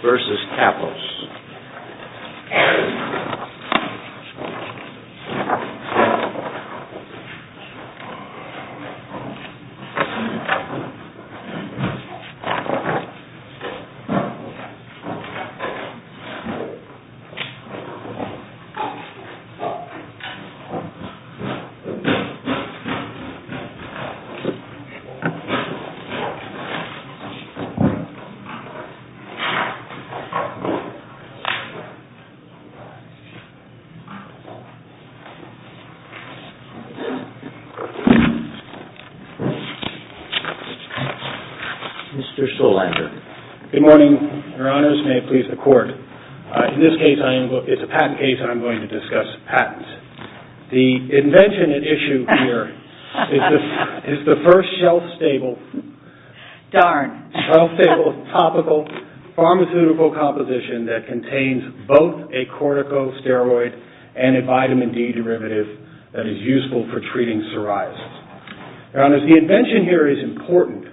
v. Kappos Mr. Solander, good morning. Your honors, may it please the court. In this case, it's a patent case and I'm going to discuss patents. The invention at issue here is the first shelf-stable topical pharmaceutical composition that contains both a corticosteroid and a vitamin D derivative that is useful for treating psoriasis. Your honors, the invention here is important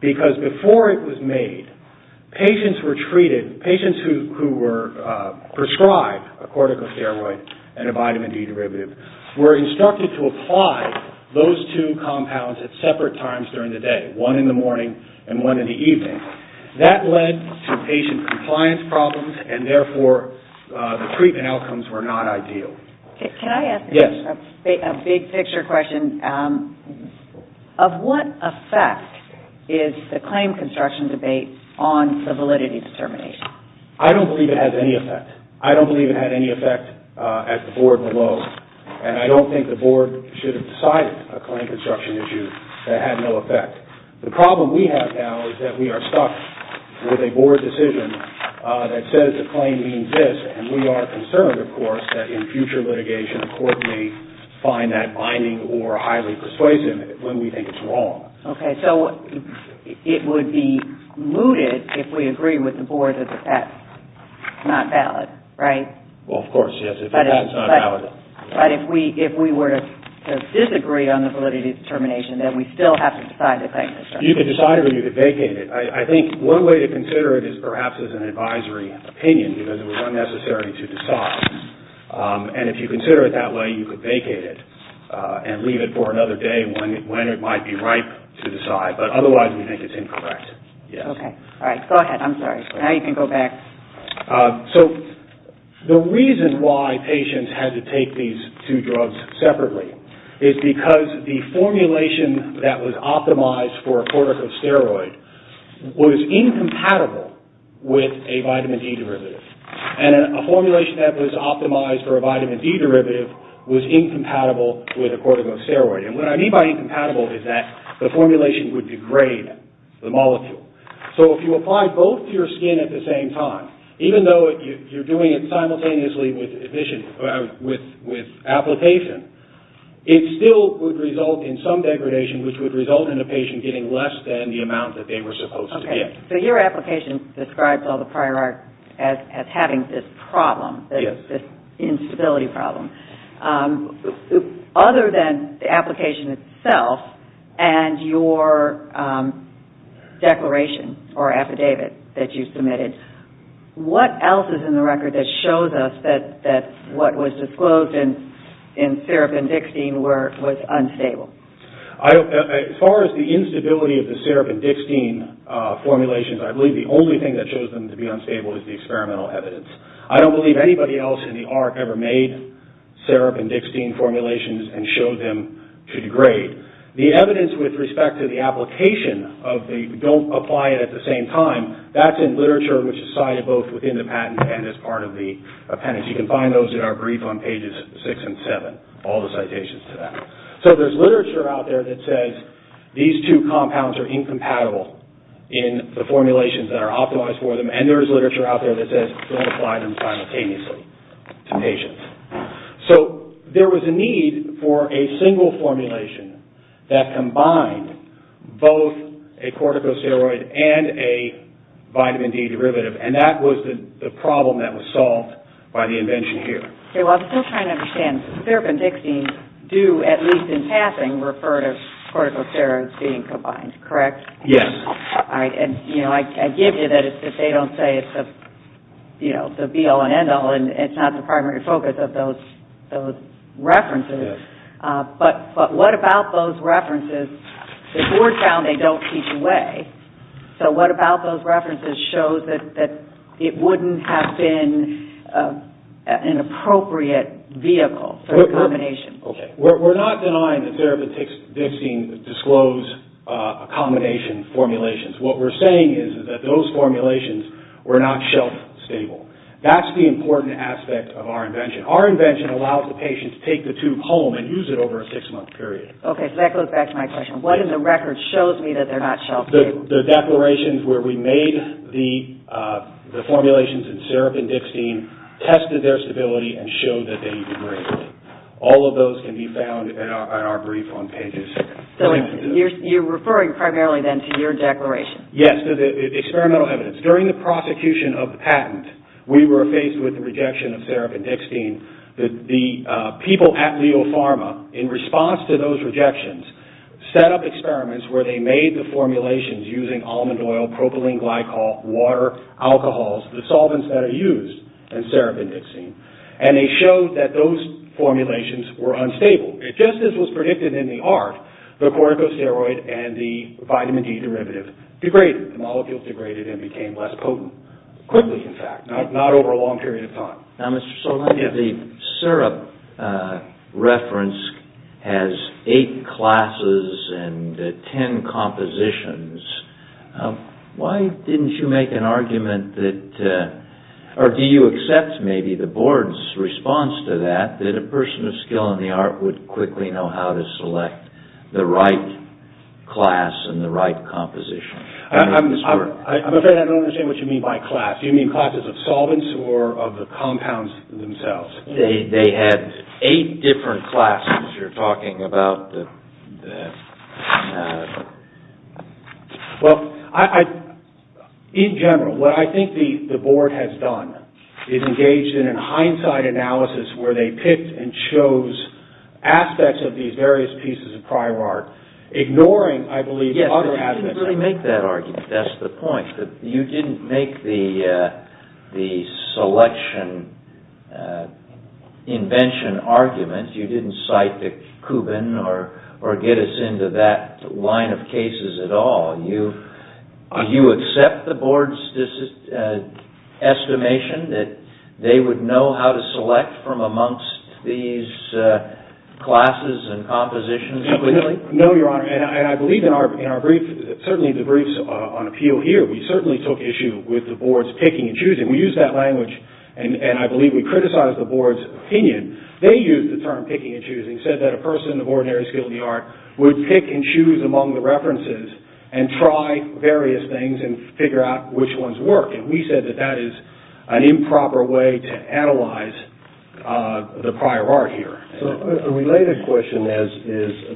because before it was made, patients who were prescribed a corticosteroid and a vitamin D derivative were instructed to apply those two compounds at separate times during the day, one in the morning and one in the evening. That led to patient compliance problems and therefore the treatment outcomes were not ideal. Can I ask a big picture question? Of what effect is the claim construction debate on the validity determination? I don't believe it has any effect. I don't believe it had any effect at the board below and I don't think the board should have decided a claim construction issue that had no effect. The problem we have now is that we are stuck with a board decision that says the claim means this and we are concerned, of course, that in future litigation the court may find that binding or highly persuasive when we think it's wrong. Okay, so it would be mooted if we agree with the board that that's not valid, right? Well, of course, yes, if that's not valid. But if we were to disagree on the validity determination, then we still have to decide the claim construction. You could decide or you could vacate it. I think one way to consider it is perhaps as an advisory opinion because it was unnecessary to decide. And if you consider it that way, you could vacate it and leave it for another day when it might be ripe to decide. But otherwise, we think it's incorrect. Okay, all right. Go ahead. I'm sorry. Now you can go back. So the reason why patients had to take these two drugs separately is because the formulation that was optimized for a corticosteroid was incompatible with a vitamin D derivative. And a formulation that was optimized for a vitamin D derivative was incompatible with a corticosteroid. And what I mean by incompatible is that the formulation would degrade the molecule. So if you apply both to your skin at the same time, even though you're doing it simultaneously with application, it still would result in some degradation which would result in a patient getting less than the amount that they were supposed to get. Okay, so your application describes all the prior art as having this problem, this instability problem. Other than the application itself and your declaration or affidavit that you submitted, what else is in the record that shows us that what was disclosed in Serapin-Dixtine was unstable? As far as the instability of the Serapin-Dixtine formulations, I believe the only thing that shows them to be unstable is the experimental evidence. I don't believe anybody else in the ARC ever made Serapin-Dixtine formulations and showed them to degrade. The evidence with respect to the application of the don't apply it at the same time, that's in literature which is cited both within the patent and as part of the appendix. You can find those in our brief on pages 6 and 7, all the citations to that. So there's literature out there that says these two compounds are incompatible in the formulations that are optimized for them. And there's literature out there that says don't apply them simultaneously to patients. So there was a need for a single formulation that combined both a corticosteroid and a vitamin D derivative, and that was the problem that was solved by the invention here. Okay, well I'm still trying to understand. Serapin-Dixtine do, at least in passing, refer to corticosteroids being combined, correct? Yes. All right, and I give you that it's just they don't say it's the B-L and N-L, and it's not the primary focus of those references. Yes. But what about those references? The board found they don't teach away. So what about those references shows that it wouldn't have been an appropriate vehicle for a combination? Okay, we're not denying that Serapin-Dixtine disclosed a combination of formulations. What we're saying is that those formulations were not shelf-stable. That's the important aspect of our invention. Our invention allows the patient to take the tube home and use it over a six-month period. Okay, so that goes back to my question. What in the record shows me that they're not shelf-stable? The declarations where we made the formulations in Serapin-Dixtine tested their stability and showed that they degraded. All of those can be found in our brief on pages. So you're referring primarily then to your declaration? Yes, to the experimental evidence. During the prosecution of the patent, we were faced with the rejection of Serapin-Dixtine. The people at Leo Pharma, in response to those rejections, set up experiments where they made the formulations using almond oil, propylene glycol, water, alcohols, the solvents that are used in Serapin-Dixtine. And they showed that those formulations were unstable. Just as was predicted in the art, the corticosteroid and the vitamin D derivative degraded. The molecules degraded and became less potent. Quickly, in fact. Not over a long period of time. Now, Mr. Solani, the Serap reference has eight classes and ten compositions. Why didn't you make an argument that, or do you accept maybe the board's response to that, that a person of skill in the art would quickly know how to select the right class and the right composition? I'm afraid I don't understand what you mean by class. Do you mean classes of solvents or of the compounds themselves? They had eight different classes you're talking about. Well, in general, what I think the board has done is engaged in a hindsight analysis where they picked and chose aspects of these various pieces of prior art, ignoring, I believe, other aspects. Yes, but you didn't really make that argument. That's the point. You didn't make the selection invention argument. You didn't cite the Cuban or get us into that line of cases at all. Do you accept the board's estimation that they would know how to select from amongst these classes and compositions quickly? No, Your Honor. I believe, certainly in the briefs on appeal here, we certainly took issue with the board's picking and choosing. We used that language, and I believe we criticized the board's opinion. They used the term picking and choosing, said that a person of ordinary skill in the art would pick and choose among the references and try various things and figure out which ones work. We said that that is an improper way to analyze the prior art here. A related question is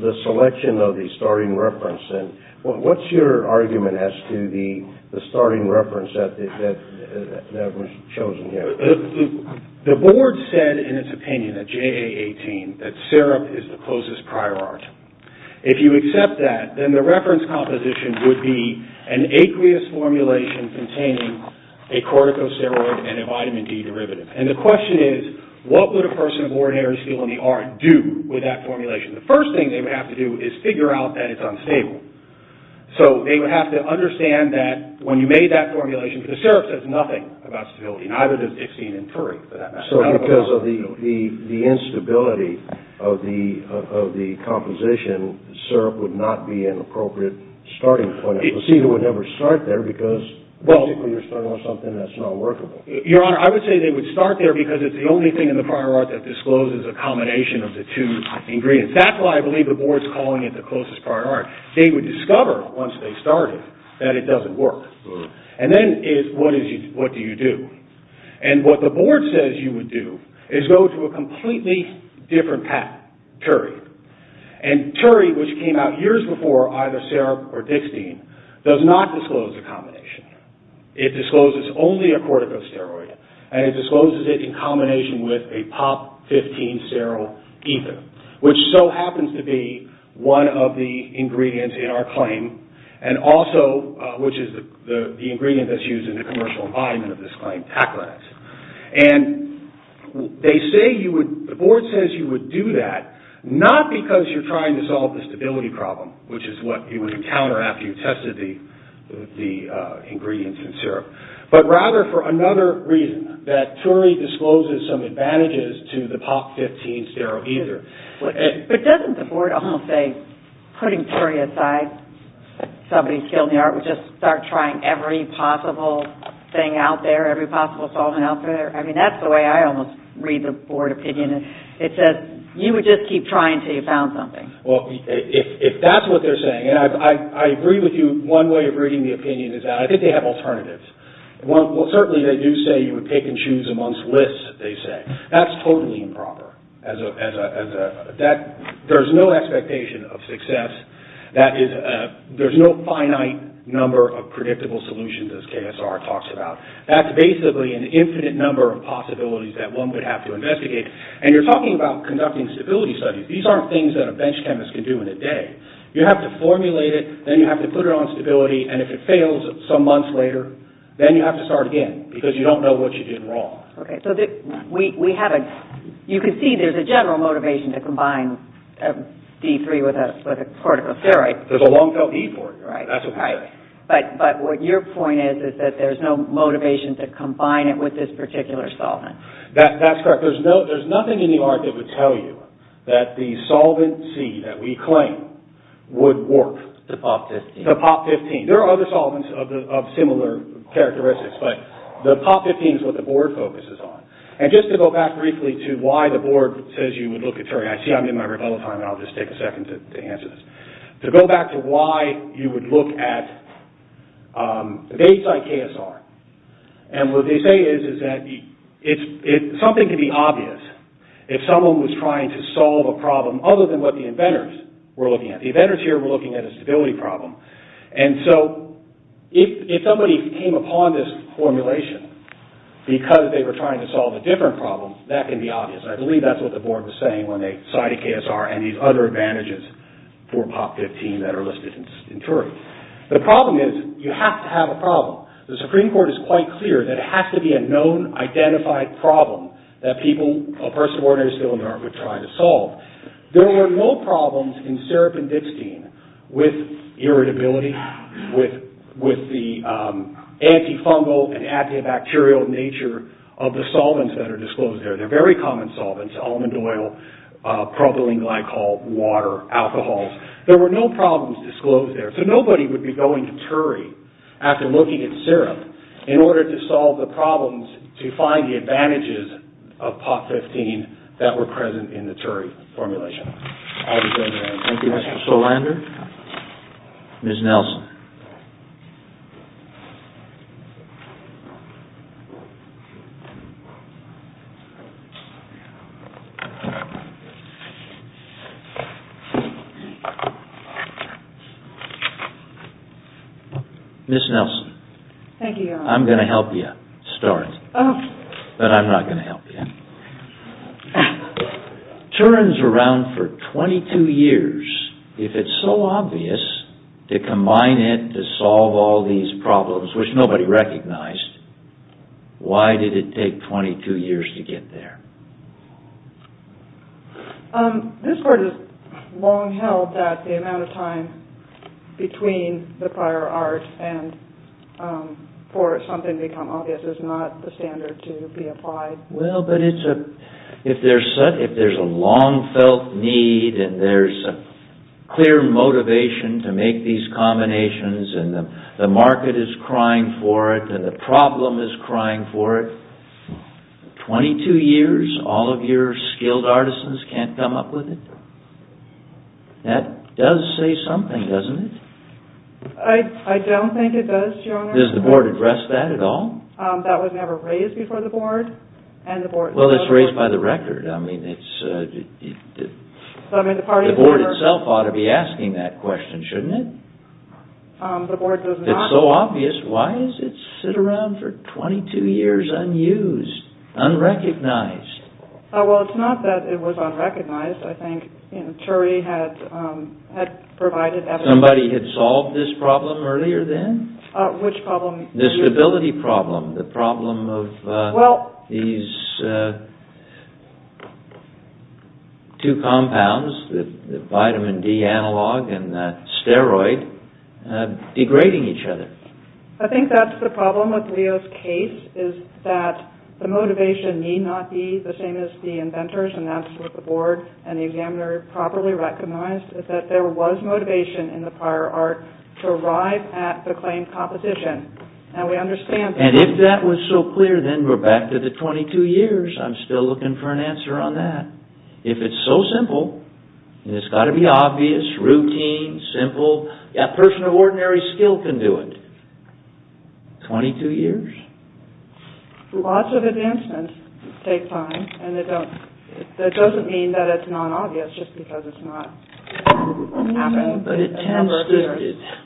the selection of the starting reference. What's your argument as to the starting reference that was chosen here? The board said in its opinion at JA-18 that syrup is the closest prior art. If you accept that, then the reference composition would be an aqueous formulation containing a corticosteroid and a vitamin D derivative. The question is, what would a person of ordinary skill in the art do with that formulation? The first thing they would have to do is figure out that it's unstable. They would have to understand that when you made that formulation, the syrup says nothing about stability, neither does Dixien and Puri, for that matter. Because of the instability of the composition, syrup would not be an appropriate starting point. A procedure would never start there because you're starting on something that's not workable. Your Honor, I would say they would start there because it's the only thing in the prior art that discloses a combination of the two ingredients. That's why I believe the board's calling it the closest prior art. They would discover once they started that it doesn't work. Then, what do you do? What the board says you would do is go to a completely different path, Puri. Puri, which came out years before either syrup or Dixien, does not disclose a combination. It discloses only a corticosteroid. It discloses it in combination with a POP-15 sterile ether, which so happens to be one of the ingredients in our claim, and also which is the ingredient that's used in the commercial environment of this claim, taquinase. The board says you would do that, not because you're trying to solve the stability problem, which is what you would encounter after you tested the ingredients in syrup, but rather for another reason, that Puri discloses some advantages to the POP-15 sterile ether. But doesn't the board almost say, putting Puri aside, somebody skilled in the art, would just start trying every possible thing out there, every possible solvent out there? I mean, that's the way I almost read the board opinion. It says you would just keep trying until you found something. Well, if that's what they're saying, and I agree with you, one way of reading the opinion is that I think they have alternatives. Well, certainly they do say you would pick and choose amongst lists, they say. That's totally improper. There's no expectation of success. There's no finite number of predictable solutions, as KSR talks about. That's basically an infinite number of possibilities that one would have to investigate. And you're talking about conducting stability studies. These aren't things that a bench chemist can do in a day. You have to formulate it, then you have to put it on stability, and if it fails some months later, then you have to start again, because you don't know what you did wrong. Okay, so we have a – you can see there's a general motivation to combine D3 with a corticosteroid. There's a long-felt E for it. Right. That's what we say. But what your point is is that there's no motivation to combine it with this particular solvent. That's correct. There's nothing in the art that would tell you that the solvent C that we claim would work. The POP-15. The POP-15. There are other solvents of similar characteristics, but the POP-15 is what the board focuses on. And just to go back briefly to why the board says you would look at Turing – I see I'm in my rebuttal time, and I'll just take a second to answer this. To go back to why you would look at Bates IKSR, and what they say is that something can be obvious if someone was trying to solve a problem other than what the inventors were looking at. The inventors here were looking at a stability problem. And so if somebody came upon this formulation because they were trying to solve a different problem, that can be obvious. I believe that's what the board was saying when they cited KSR and these other advantages for POP-15 that are listed in Turing. The problem is you have to have a problem. The Supreme Court is quite clear that it has to be a known, identified problem that a person of ordinary skill and art would try to solve. There were no problems in seropendictine with irritability, with the antifungal and antibacterial nature of the solvents that are disclosed there. They're very common solvents – almond oil, propylene glycol, water, alcohols. There were no problems disclosed there. So nobody would be going to Turing after looking at syrup in order to solve the problems to find the advantages of POP-15 that were present in the Turing formulation. I'll be going now. Thank you, Mr. Solander. Ms. Nelson. Ms. Nelson. Thank you, Your Honor. I'm going to help you start, but I'm not going to help you. Turing's around for 22 years. If it's so obvious to combine it to solve all these problems, which nobody recognized, why did it take 22 years to get there? This Court has long held that the amount of time between the prior art and for something to become obvious is not the standard to be applied. Well, but if there's a long-felt need and there's a clear motivation to make these combinations and the market is crying for it and the problem is crying for it, 22 years, all of your skilled artisans can't come up with it? That does say something, doesn't it? I don't think it does, Your Honor. Does the Board address that at all? That was never raised before the Board. Well, it's raised by the record. The Board itself ought to be asking that question, shouldn't it? The Board does not. If it's so obvious, why does it sit around for 22 years unused, unrecognized? Well, it's not that it was unrecognized. I think Turing had provided evidence... Somebody had solved this problem earlier then? Which problem? This stability problem, the problem of these two compounds, the vitamin D analog and the steroid, degrading each other. I think that's the problem with Leo's case, is that the motivation need not be the same as the inventor's, and that's what the Board and the examiner properly recognized, is that there was motivation in the prior art to arrive at the claimed competition. And we understand... And if that was so clear, then we're back to the 22 years. I'm still looking for an answer on that. If it's so simple, and it's got to be obvious, routine, simple, a person of ordinary skill can do it. 22 years? Lots of advancements take time, and that doesn't mean that it's not obvious just because it's not happened. But it tends to...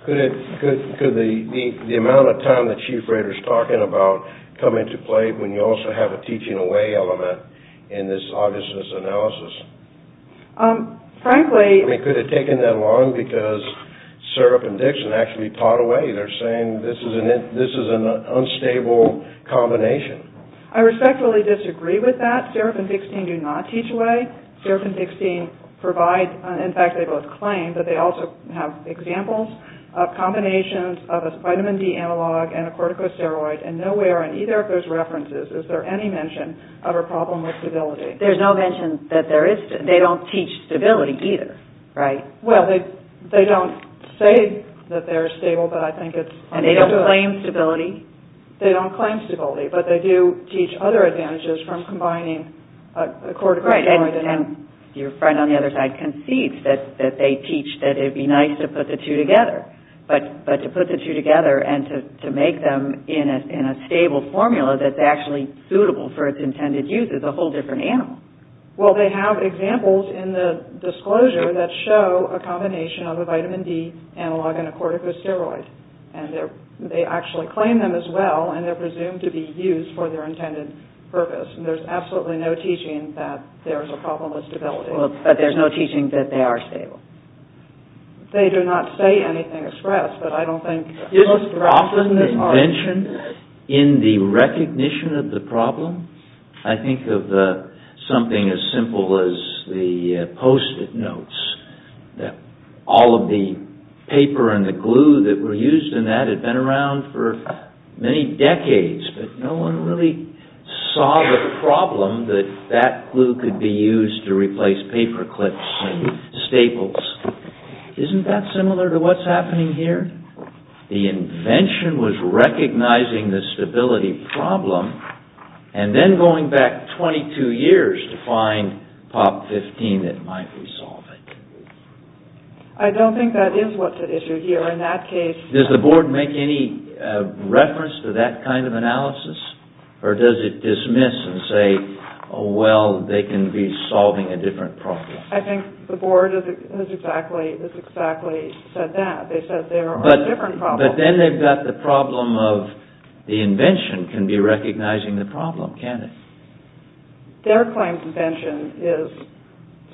Could the amount of time that Chief Rader's talking about come into play when you also have a teaching away element in this obviousness analysis? Frankly... I mean, could it have taken that long? Because Serap and Dixon actually part away. They're saying this is an unstable combination. I respectfully disagree with that. Serap and Dixon do not teach away. Serap and Dixon provide... In fact, they both claim that they also have examples of combinations of a vitamin D analog and a corticosteroid, and nowhere in either of those references is there any mention of a problem with stability. There's no mention that there is... They don't teach stability either, right? Well, they don't say that they're stable, but I think it's... And they don't claim stability? They don't claim stability, but they do teach other advantages from combining a corticosteroid and... Right, and your friend on the other side concedes that they teach that it would be nice to put the two together. But to put the two together and to make them in a stable formula that's actually suitable for its intended use is a whole different animal. Well, they have examples in the disclosure that show a combination of a vitamin D analog and a corticosteroid, and they actually claim them as well, and they're presumed to be used for their intended purpose. There's absolutely no teaching that there's a problem with stability. But there's no teaching that they are stable? They do not say anything expressed, but I don't think... Isn't there often a mention in the recognition of the problem? I think of something as simple as the post-it notes, that all of the paper and the glue that were used in that had been around for many decades, but no one really saw the problem that that glue could be used to replace paper clips and staples. Isn't that similar to what's happening here? The invention was recognizing the stability problem, and then going back 22 years to find POP 15 that might resolve it. I don't think that is what's at issue here in that case. Or does it dismiss and say, oh well, they can be solving a different problem. I think the board has exactly said that. They said there are different problems. But then they've got the problem of the invention can be recognizing the problem, can't it? Their claim to invention is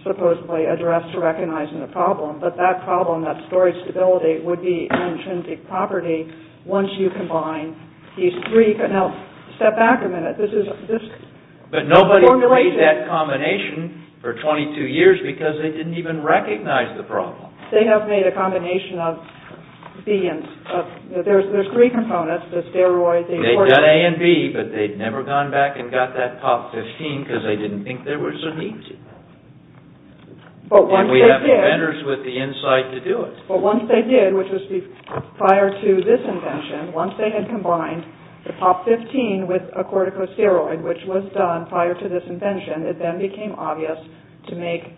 supposedly addressed to recognizing the problem, but that problem, that story of stability, would be an intrinsic property once you combine these three... Now, step back a minute. But nobody made that combination for 22 years because they didn't even recognize the problem. They have made a combination of B and... There's three components, the steroid... They've done A and B, but they've never gone back and got that POP 15 because they didn't think there was a need to. And we have inventors with the insight to do it. But once they did, which was prior to this invention, once they had combined the POP 15 with a corticosteroid, which was done prior to this invention, it then became obvious to make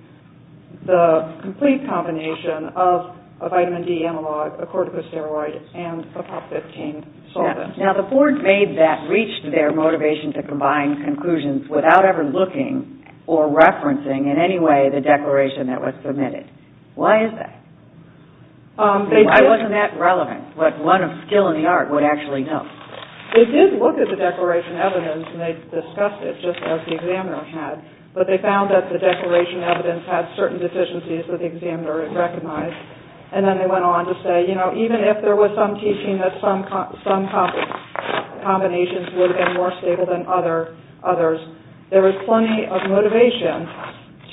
the complete combination of a vitamin D analog, a corticosteroid, and a POP 15 solvent. Now, the board made that, reached their motivation to combine conclusions without ever looking or referencing in any way the declaration that was submitted. Why is that? Why wasn't that relevant? What one of skill in the art would actually know. They did look at the declaration evidence and they discussed it just as the examiner had. But they found that the declaration evidence had certain deficiencies that the examiner had recognized. And then they went on to say, you know, even if there was some teaching that some combinations would have been more stable than others, there was plenty of motivation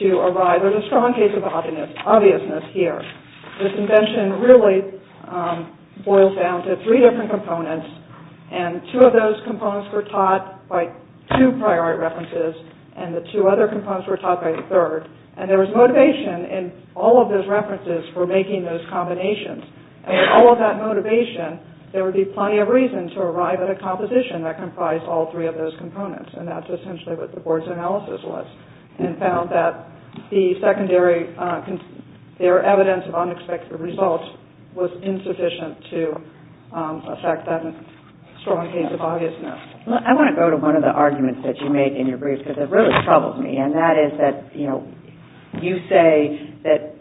to arrive... There's a strong case of obviousness here. This invention really boils down to three different components and two of those components were taught by two prior art references and the two other components were taught by a third. And there was motivation in all of those references for making those combinations. And with all of that motivation, there would be plenty of reason to arrive at a composition that comprised all three of those components. And that's essentially what the board's analysis was and found that the secondary... their evidence of unexpected results was insufficient to affect that strong case of obviousness. I want to go to one of the arguments that you make in your brief because it really troubles me and that is that, you know, you say that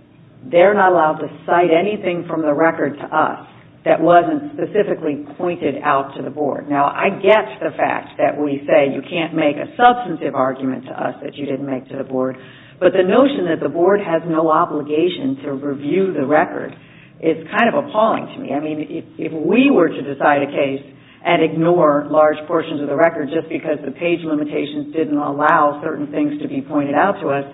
they're not allowed to cite anything from the record to us that wasn't specifically pointed out to the board. Now, I get the fact that we say you can't make a substantive argument to us that you didn't make to the board, but the notion that the board has no obligation to review the record is kind of appalling to me. I mean, if we were to decide a case and ignore large portions of the record just because the page limitations didn't allow certain things to be pointed out to us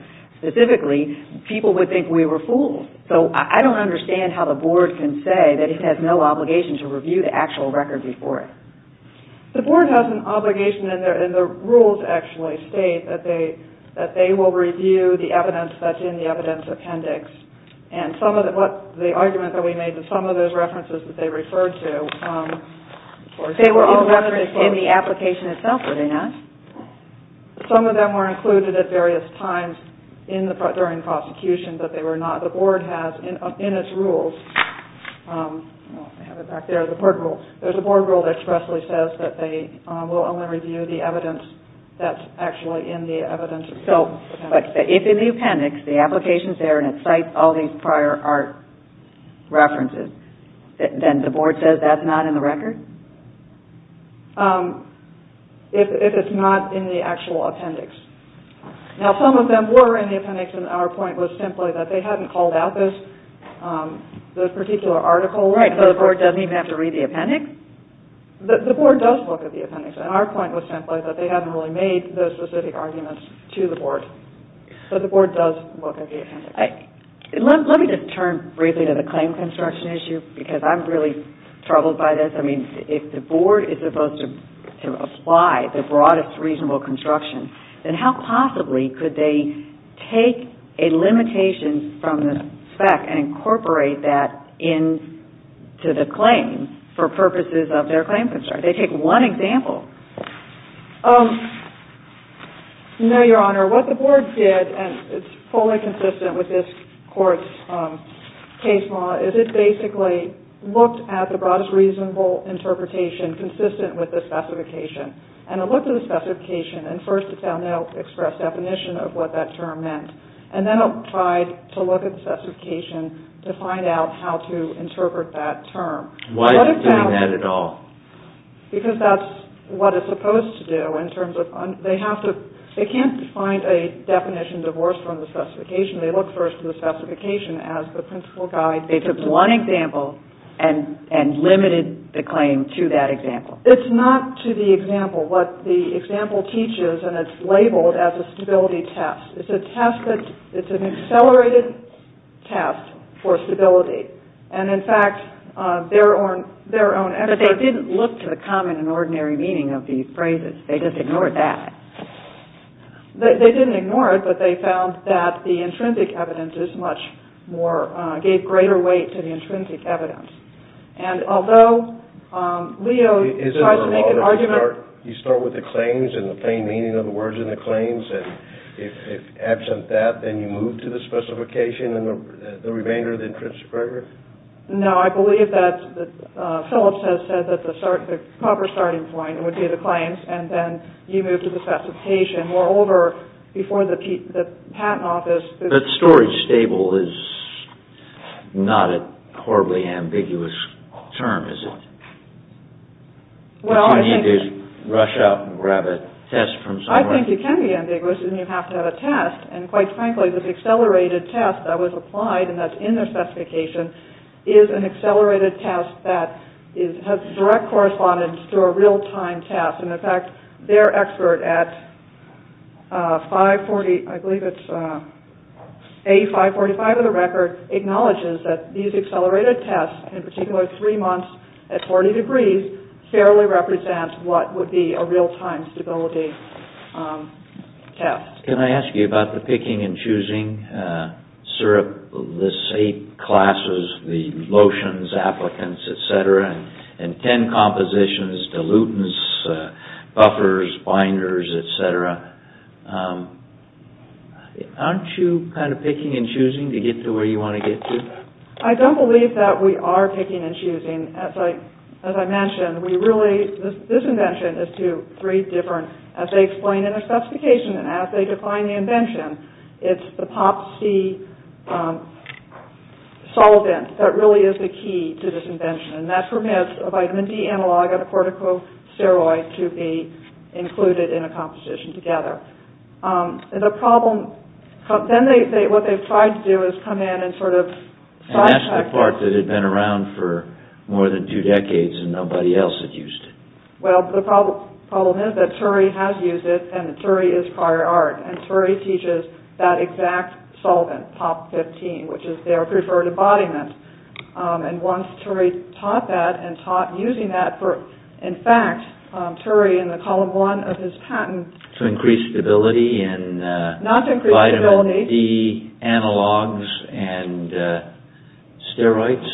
specifically, people would think we were fools. So I don't understand how the board can say that it has no obligation to review the actual record before it. The board has an obligation and the rules actually state that they will review the evidence that's in the evidence appendix. And the argument that we made that some of those references that they referred to... They were all referenced in the application itself, were they not? Some of them were included at various times during the prosecution, but they were not. The board has, in its rules... I have it back there, the board rules. There's a board rule that expressly says that they will only review the evidence that's actually in the evidence appendix. But if in the appendix, the application's there and it cites all these prior art references, then the board says that's not in the record? If it's not in the actual appendix. Now, some of them were in the appendix and our point was simply that they hadn't called out this, this particular article. Right, so the board doesn't even have to read the appendix? The board does look at the appendix and our point was simply that they hadn't really made those specific arguments to the board. But the board does look at the appendix. Let me just turn briefly to the claim construction issue because I'm really troubled by this. I mean, if the board is supposed to apply the broadest reasonable construction, then how possibly could they take a limitation from the spec and incorporate that into the claim for purposes of their claim construction? They take one example. No, Your Honor. What the board did, and it's fully consistent with this court's case law, is it basically looked at the broadest reasonable interpretation consistent with the specification. And it looked at the specification and first it found out the express definition of what that term meant. And then it tried to look at the specification to find out how to interpret that term. Why is it doing that at all? Because that's what it's supposed to do. They can't find a definition divorced from the specification. They look first at the specification as the principal guide. They took one example and limited the claim to that example. It's not to the example. What the example teaches, and it's labeled as a stability test, it's an accelerated test for stability. And in fact, their own experts... But they didn't look to the common and ordinary meaning of these phrases. They just ignored that. They didn't ignore it, but they found that the intrinsic evidence is much more... gave greater weight to the intrinsic evidence. And although Leo tried to make an argument... You start with the claims and the plain meaning of the words in the claims, and if absent that, then you move to the specification and the remainder of the intrinsic evidence? No. I believe that Phillips has said that the proper starting point would be the claims, and then you move to the specification. Moreover, before the patent office... But storage stable is not a horribly ambiguous term, is it? Well, I think... You need to rush out and grab a test from somewhere. I think it can be ambiguous and you have to have a test. And quite frankly, this accelerated test that was applied and that's in their specification is an accelerated test that has direct correspondence to a real-time test. And in fact, their expert at 540... I believe it's... A545 of the record acknowledges that these accelerated tests, in particular three months at 40 degrees, fairly represent what would be a real-time stability test. Can I ask you about the picking and choosing, sir? This eight classes, the lotions, applicants, etc., and ten compositions, dilutants, buffers, binders, etc. Aren't you kind of picking and choosing to get to where you want to get to? I don't believe that we are picking and choosing. As I mentioned, we really... This invention is to three different... As they explain in their specification and as they define the invention, it's the POPC solvent that really is the key to this invention. And that permits a vitamin D analog and a corticosteroid to be included in a composition together. And the problem... Then what they've tried to do is come in and sort of... And that's the part that had been around for more than two decades and nobody else had used it. Well, the problem is that TURI has used it and TURI is prior art. And TURI teaches that exact solvent, POP15, which is their preferred embodiment. And once TURI taught that and taught using that for... In fact, TURI in the column one of his patent... To increase stability in vitamin D analogs and steroids?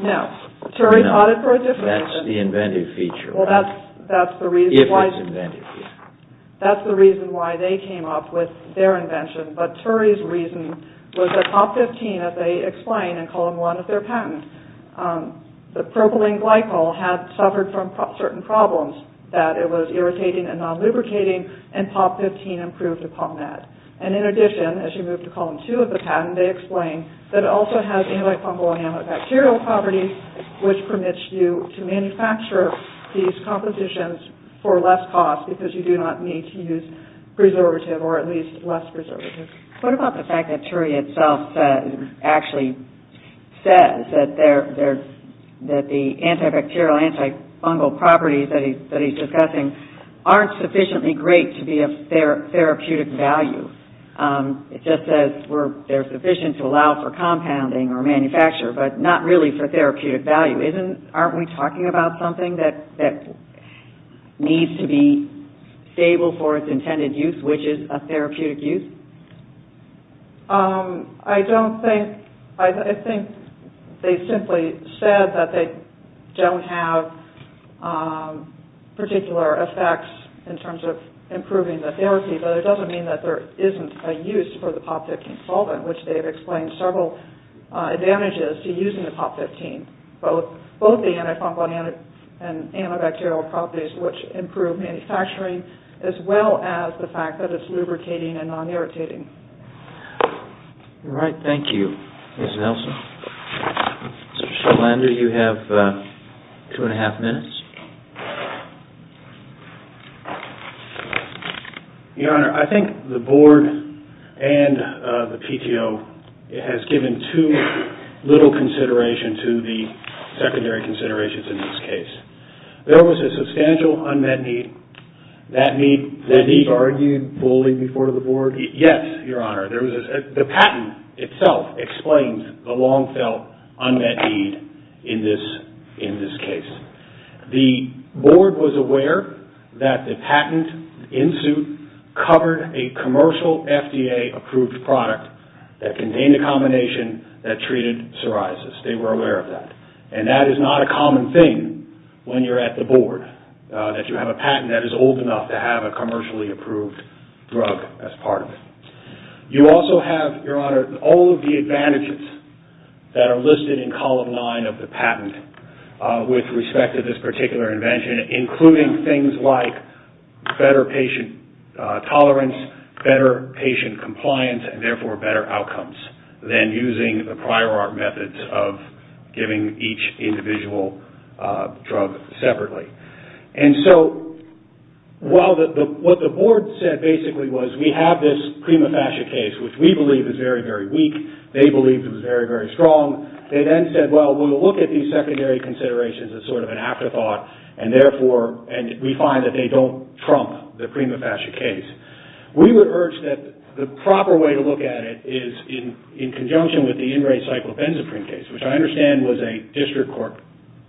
No. TURI taught it for a different reason. That's the inventive feature. Well, that's the reason why... That's the reason why they came up with their invention. But TURI's reason was that POP15, as they explain in column one of their patent, the propylene glycol had suffered from certain problems, that it was irritating and non-lubricating, and POP15 improved upon that. And in addition, as you move to column two of the patent, they explain that it also has antifungal and antibacterial properties, which permits you to manufacture these compositions for less cost because you do not need to use preservative or at least less preservative. What about the fact that TURI itself actually says that the antibacterial, antifungal properties that he's discussing aren't sufficiently great to be of therapeutic value? It just says they're sufficient to allow for compounding or manufacture, but not really for therapeutic value. Aren't we talking about something that needs to be stable for its intended use, which is a therapeutic use? I don't think... I think they simply said that they don't have particular effects in terms of improving the therapy, but it doesn't mean that there isn't a use for the POP15 solvent, which they've explained several advantages to using the POP15, both the antifungal and antibacterial properties, which improve manufacturing, as well as the fact that it's lubricating and non-irritating. All right, thank you. Ms. Nelson? Mr. Schlender, you have two and a half minutes. Your Honor, I think the Board and the PTO has given too little consideration to the secondary considerations in this case. There was a substantial unmet need. That need... The need argued fully before the Board? Yes, Your Honor. The patent itself explains the long-felt unmet need in this case. The Board was aware that the patent in suit covered a commercial FDA-approved product that contained a combination that treated psoriasis. They were aware of that. And that is not a common thing when you're at the Board, that you have a patent that is old enough to have a commercially-approved drug as part of it. You also have, Your Honor, all of the advantages that are listed in column nine of the patent with respect to this particular invention, including things like better patient tolerance, better patient compliance, and therefore better outcomes than using the prior art methods of giving each individual drug separately. And so what the Board said basically was, we have this prima facie case, which we believe is very, very weak. They believed it was very, very strong. They then said, well, we'll look at these secondary considerations as a sort of an afterthought, and we find that they don't trump the prima facie case. We would urge that the proper way to look at it is in conjunction with the in-ray cyclopenzaprine case, which I understand was a district court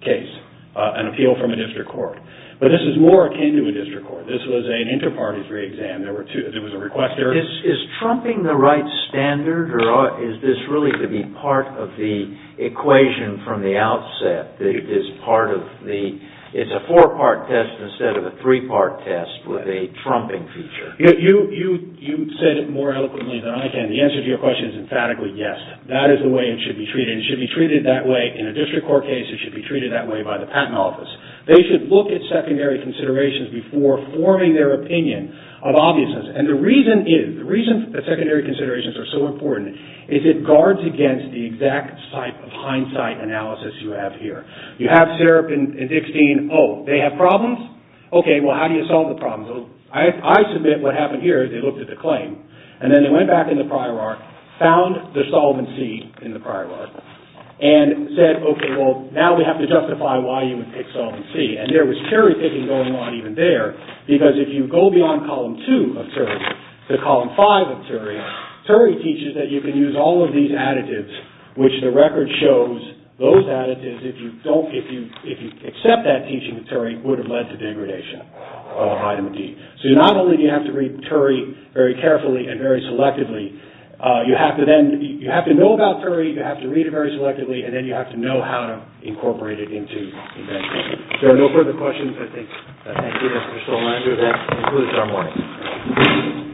case, an appeal from a district court. But this is more akin to a district court. This was an inter-party free exam. There was a requester. Is trumping the right standard, or is this really to be part of the equation from the outset, that it's a four-part test instead of a three-part test with a trumping feature? You said it more eloquently than I can. The answer to your question is emphatically yes. That is the way it should be treated. It should be treated that way. In a district court case, it should be treated that way by the patent office. They should look at secondary considerations before forming their opinion of obviousness. And the reason is, the reason that secondary considerations are so important is it guards against the exact type of hindsight analysis you have here. You have Serap and Dickstein. Oh, they have problems? Okay, well, how do you solve the problems? I submit what happened here is they looked at the claim, and then they went back in the prior arc, found the solvent C in the prior arc, and said, okay, well, now we have to justify why you would pick solvent C. And there was cherry-picking going on even there, because if you go beyond column two of Turey to column five of Turey, Turey teaches that you can use all of these additives, which the record shows those additives, if you accept that teaching of Turey, would have led to degradation of item D. So not only do you have to read Turey very carefully and very selectively, you have to know about Turey, you have to read it very selectively, and then you have to know how to incorporate it into that teaching. If there are no further questions, I thank you, Mr. Stollmeyer. That concludes our morning.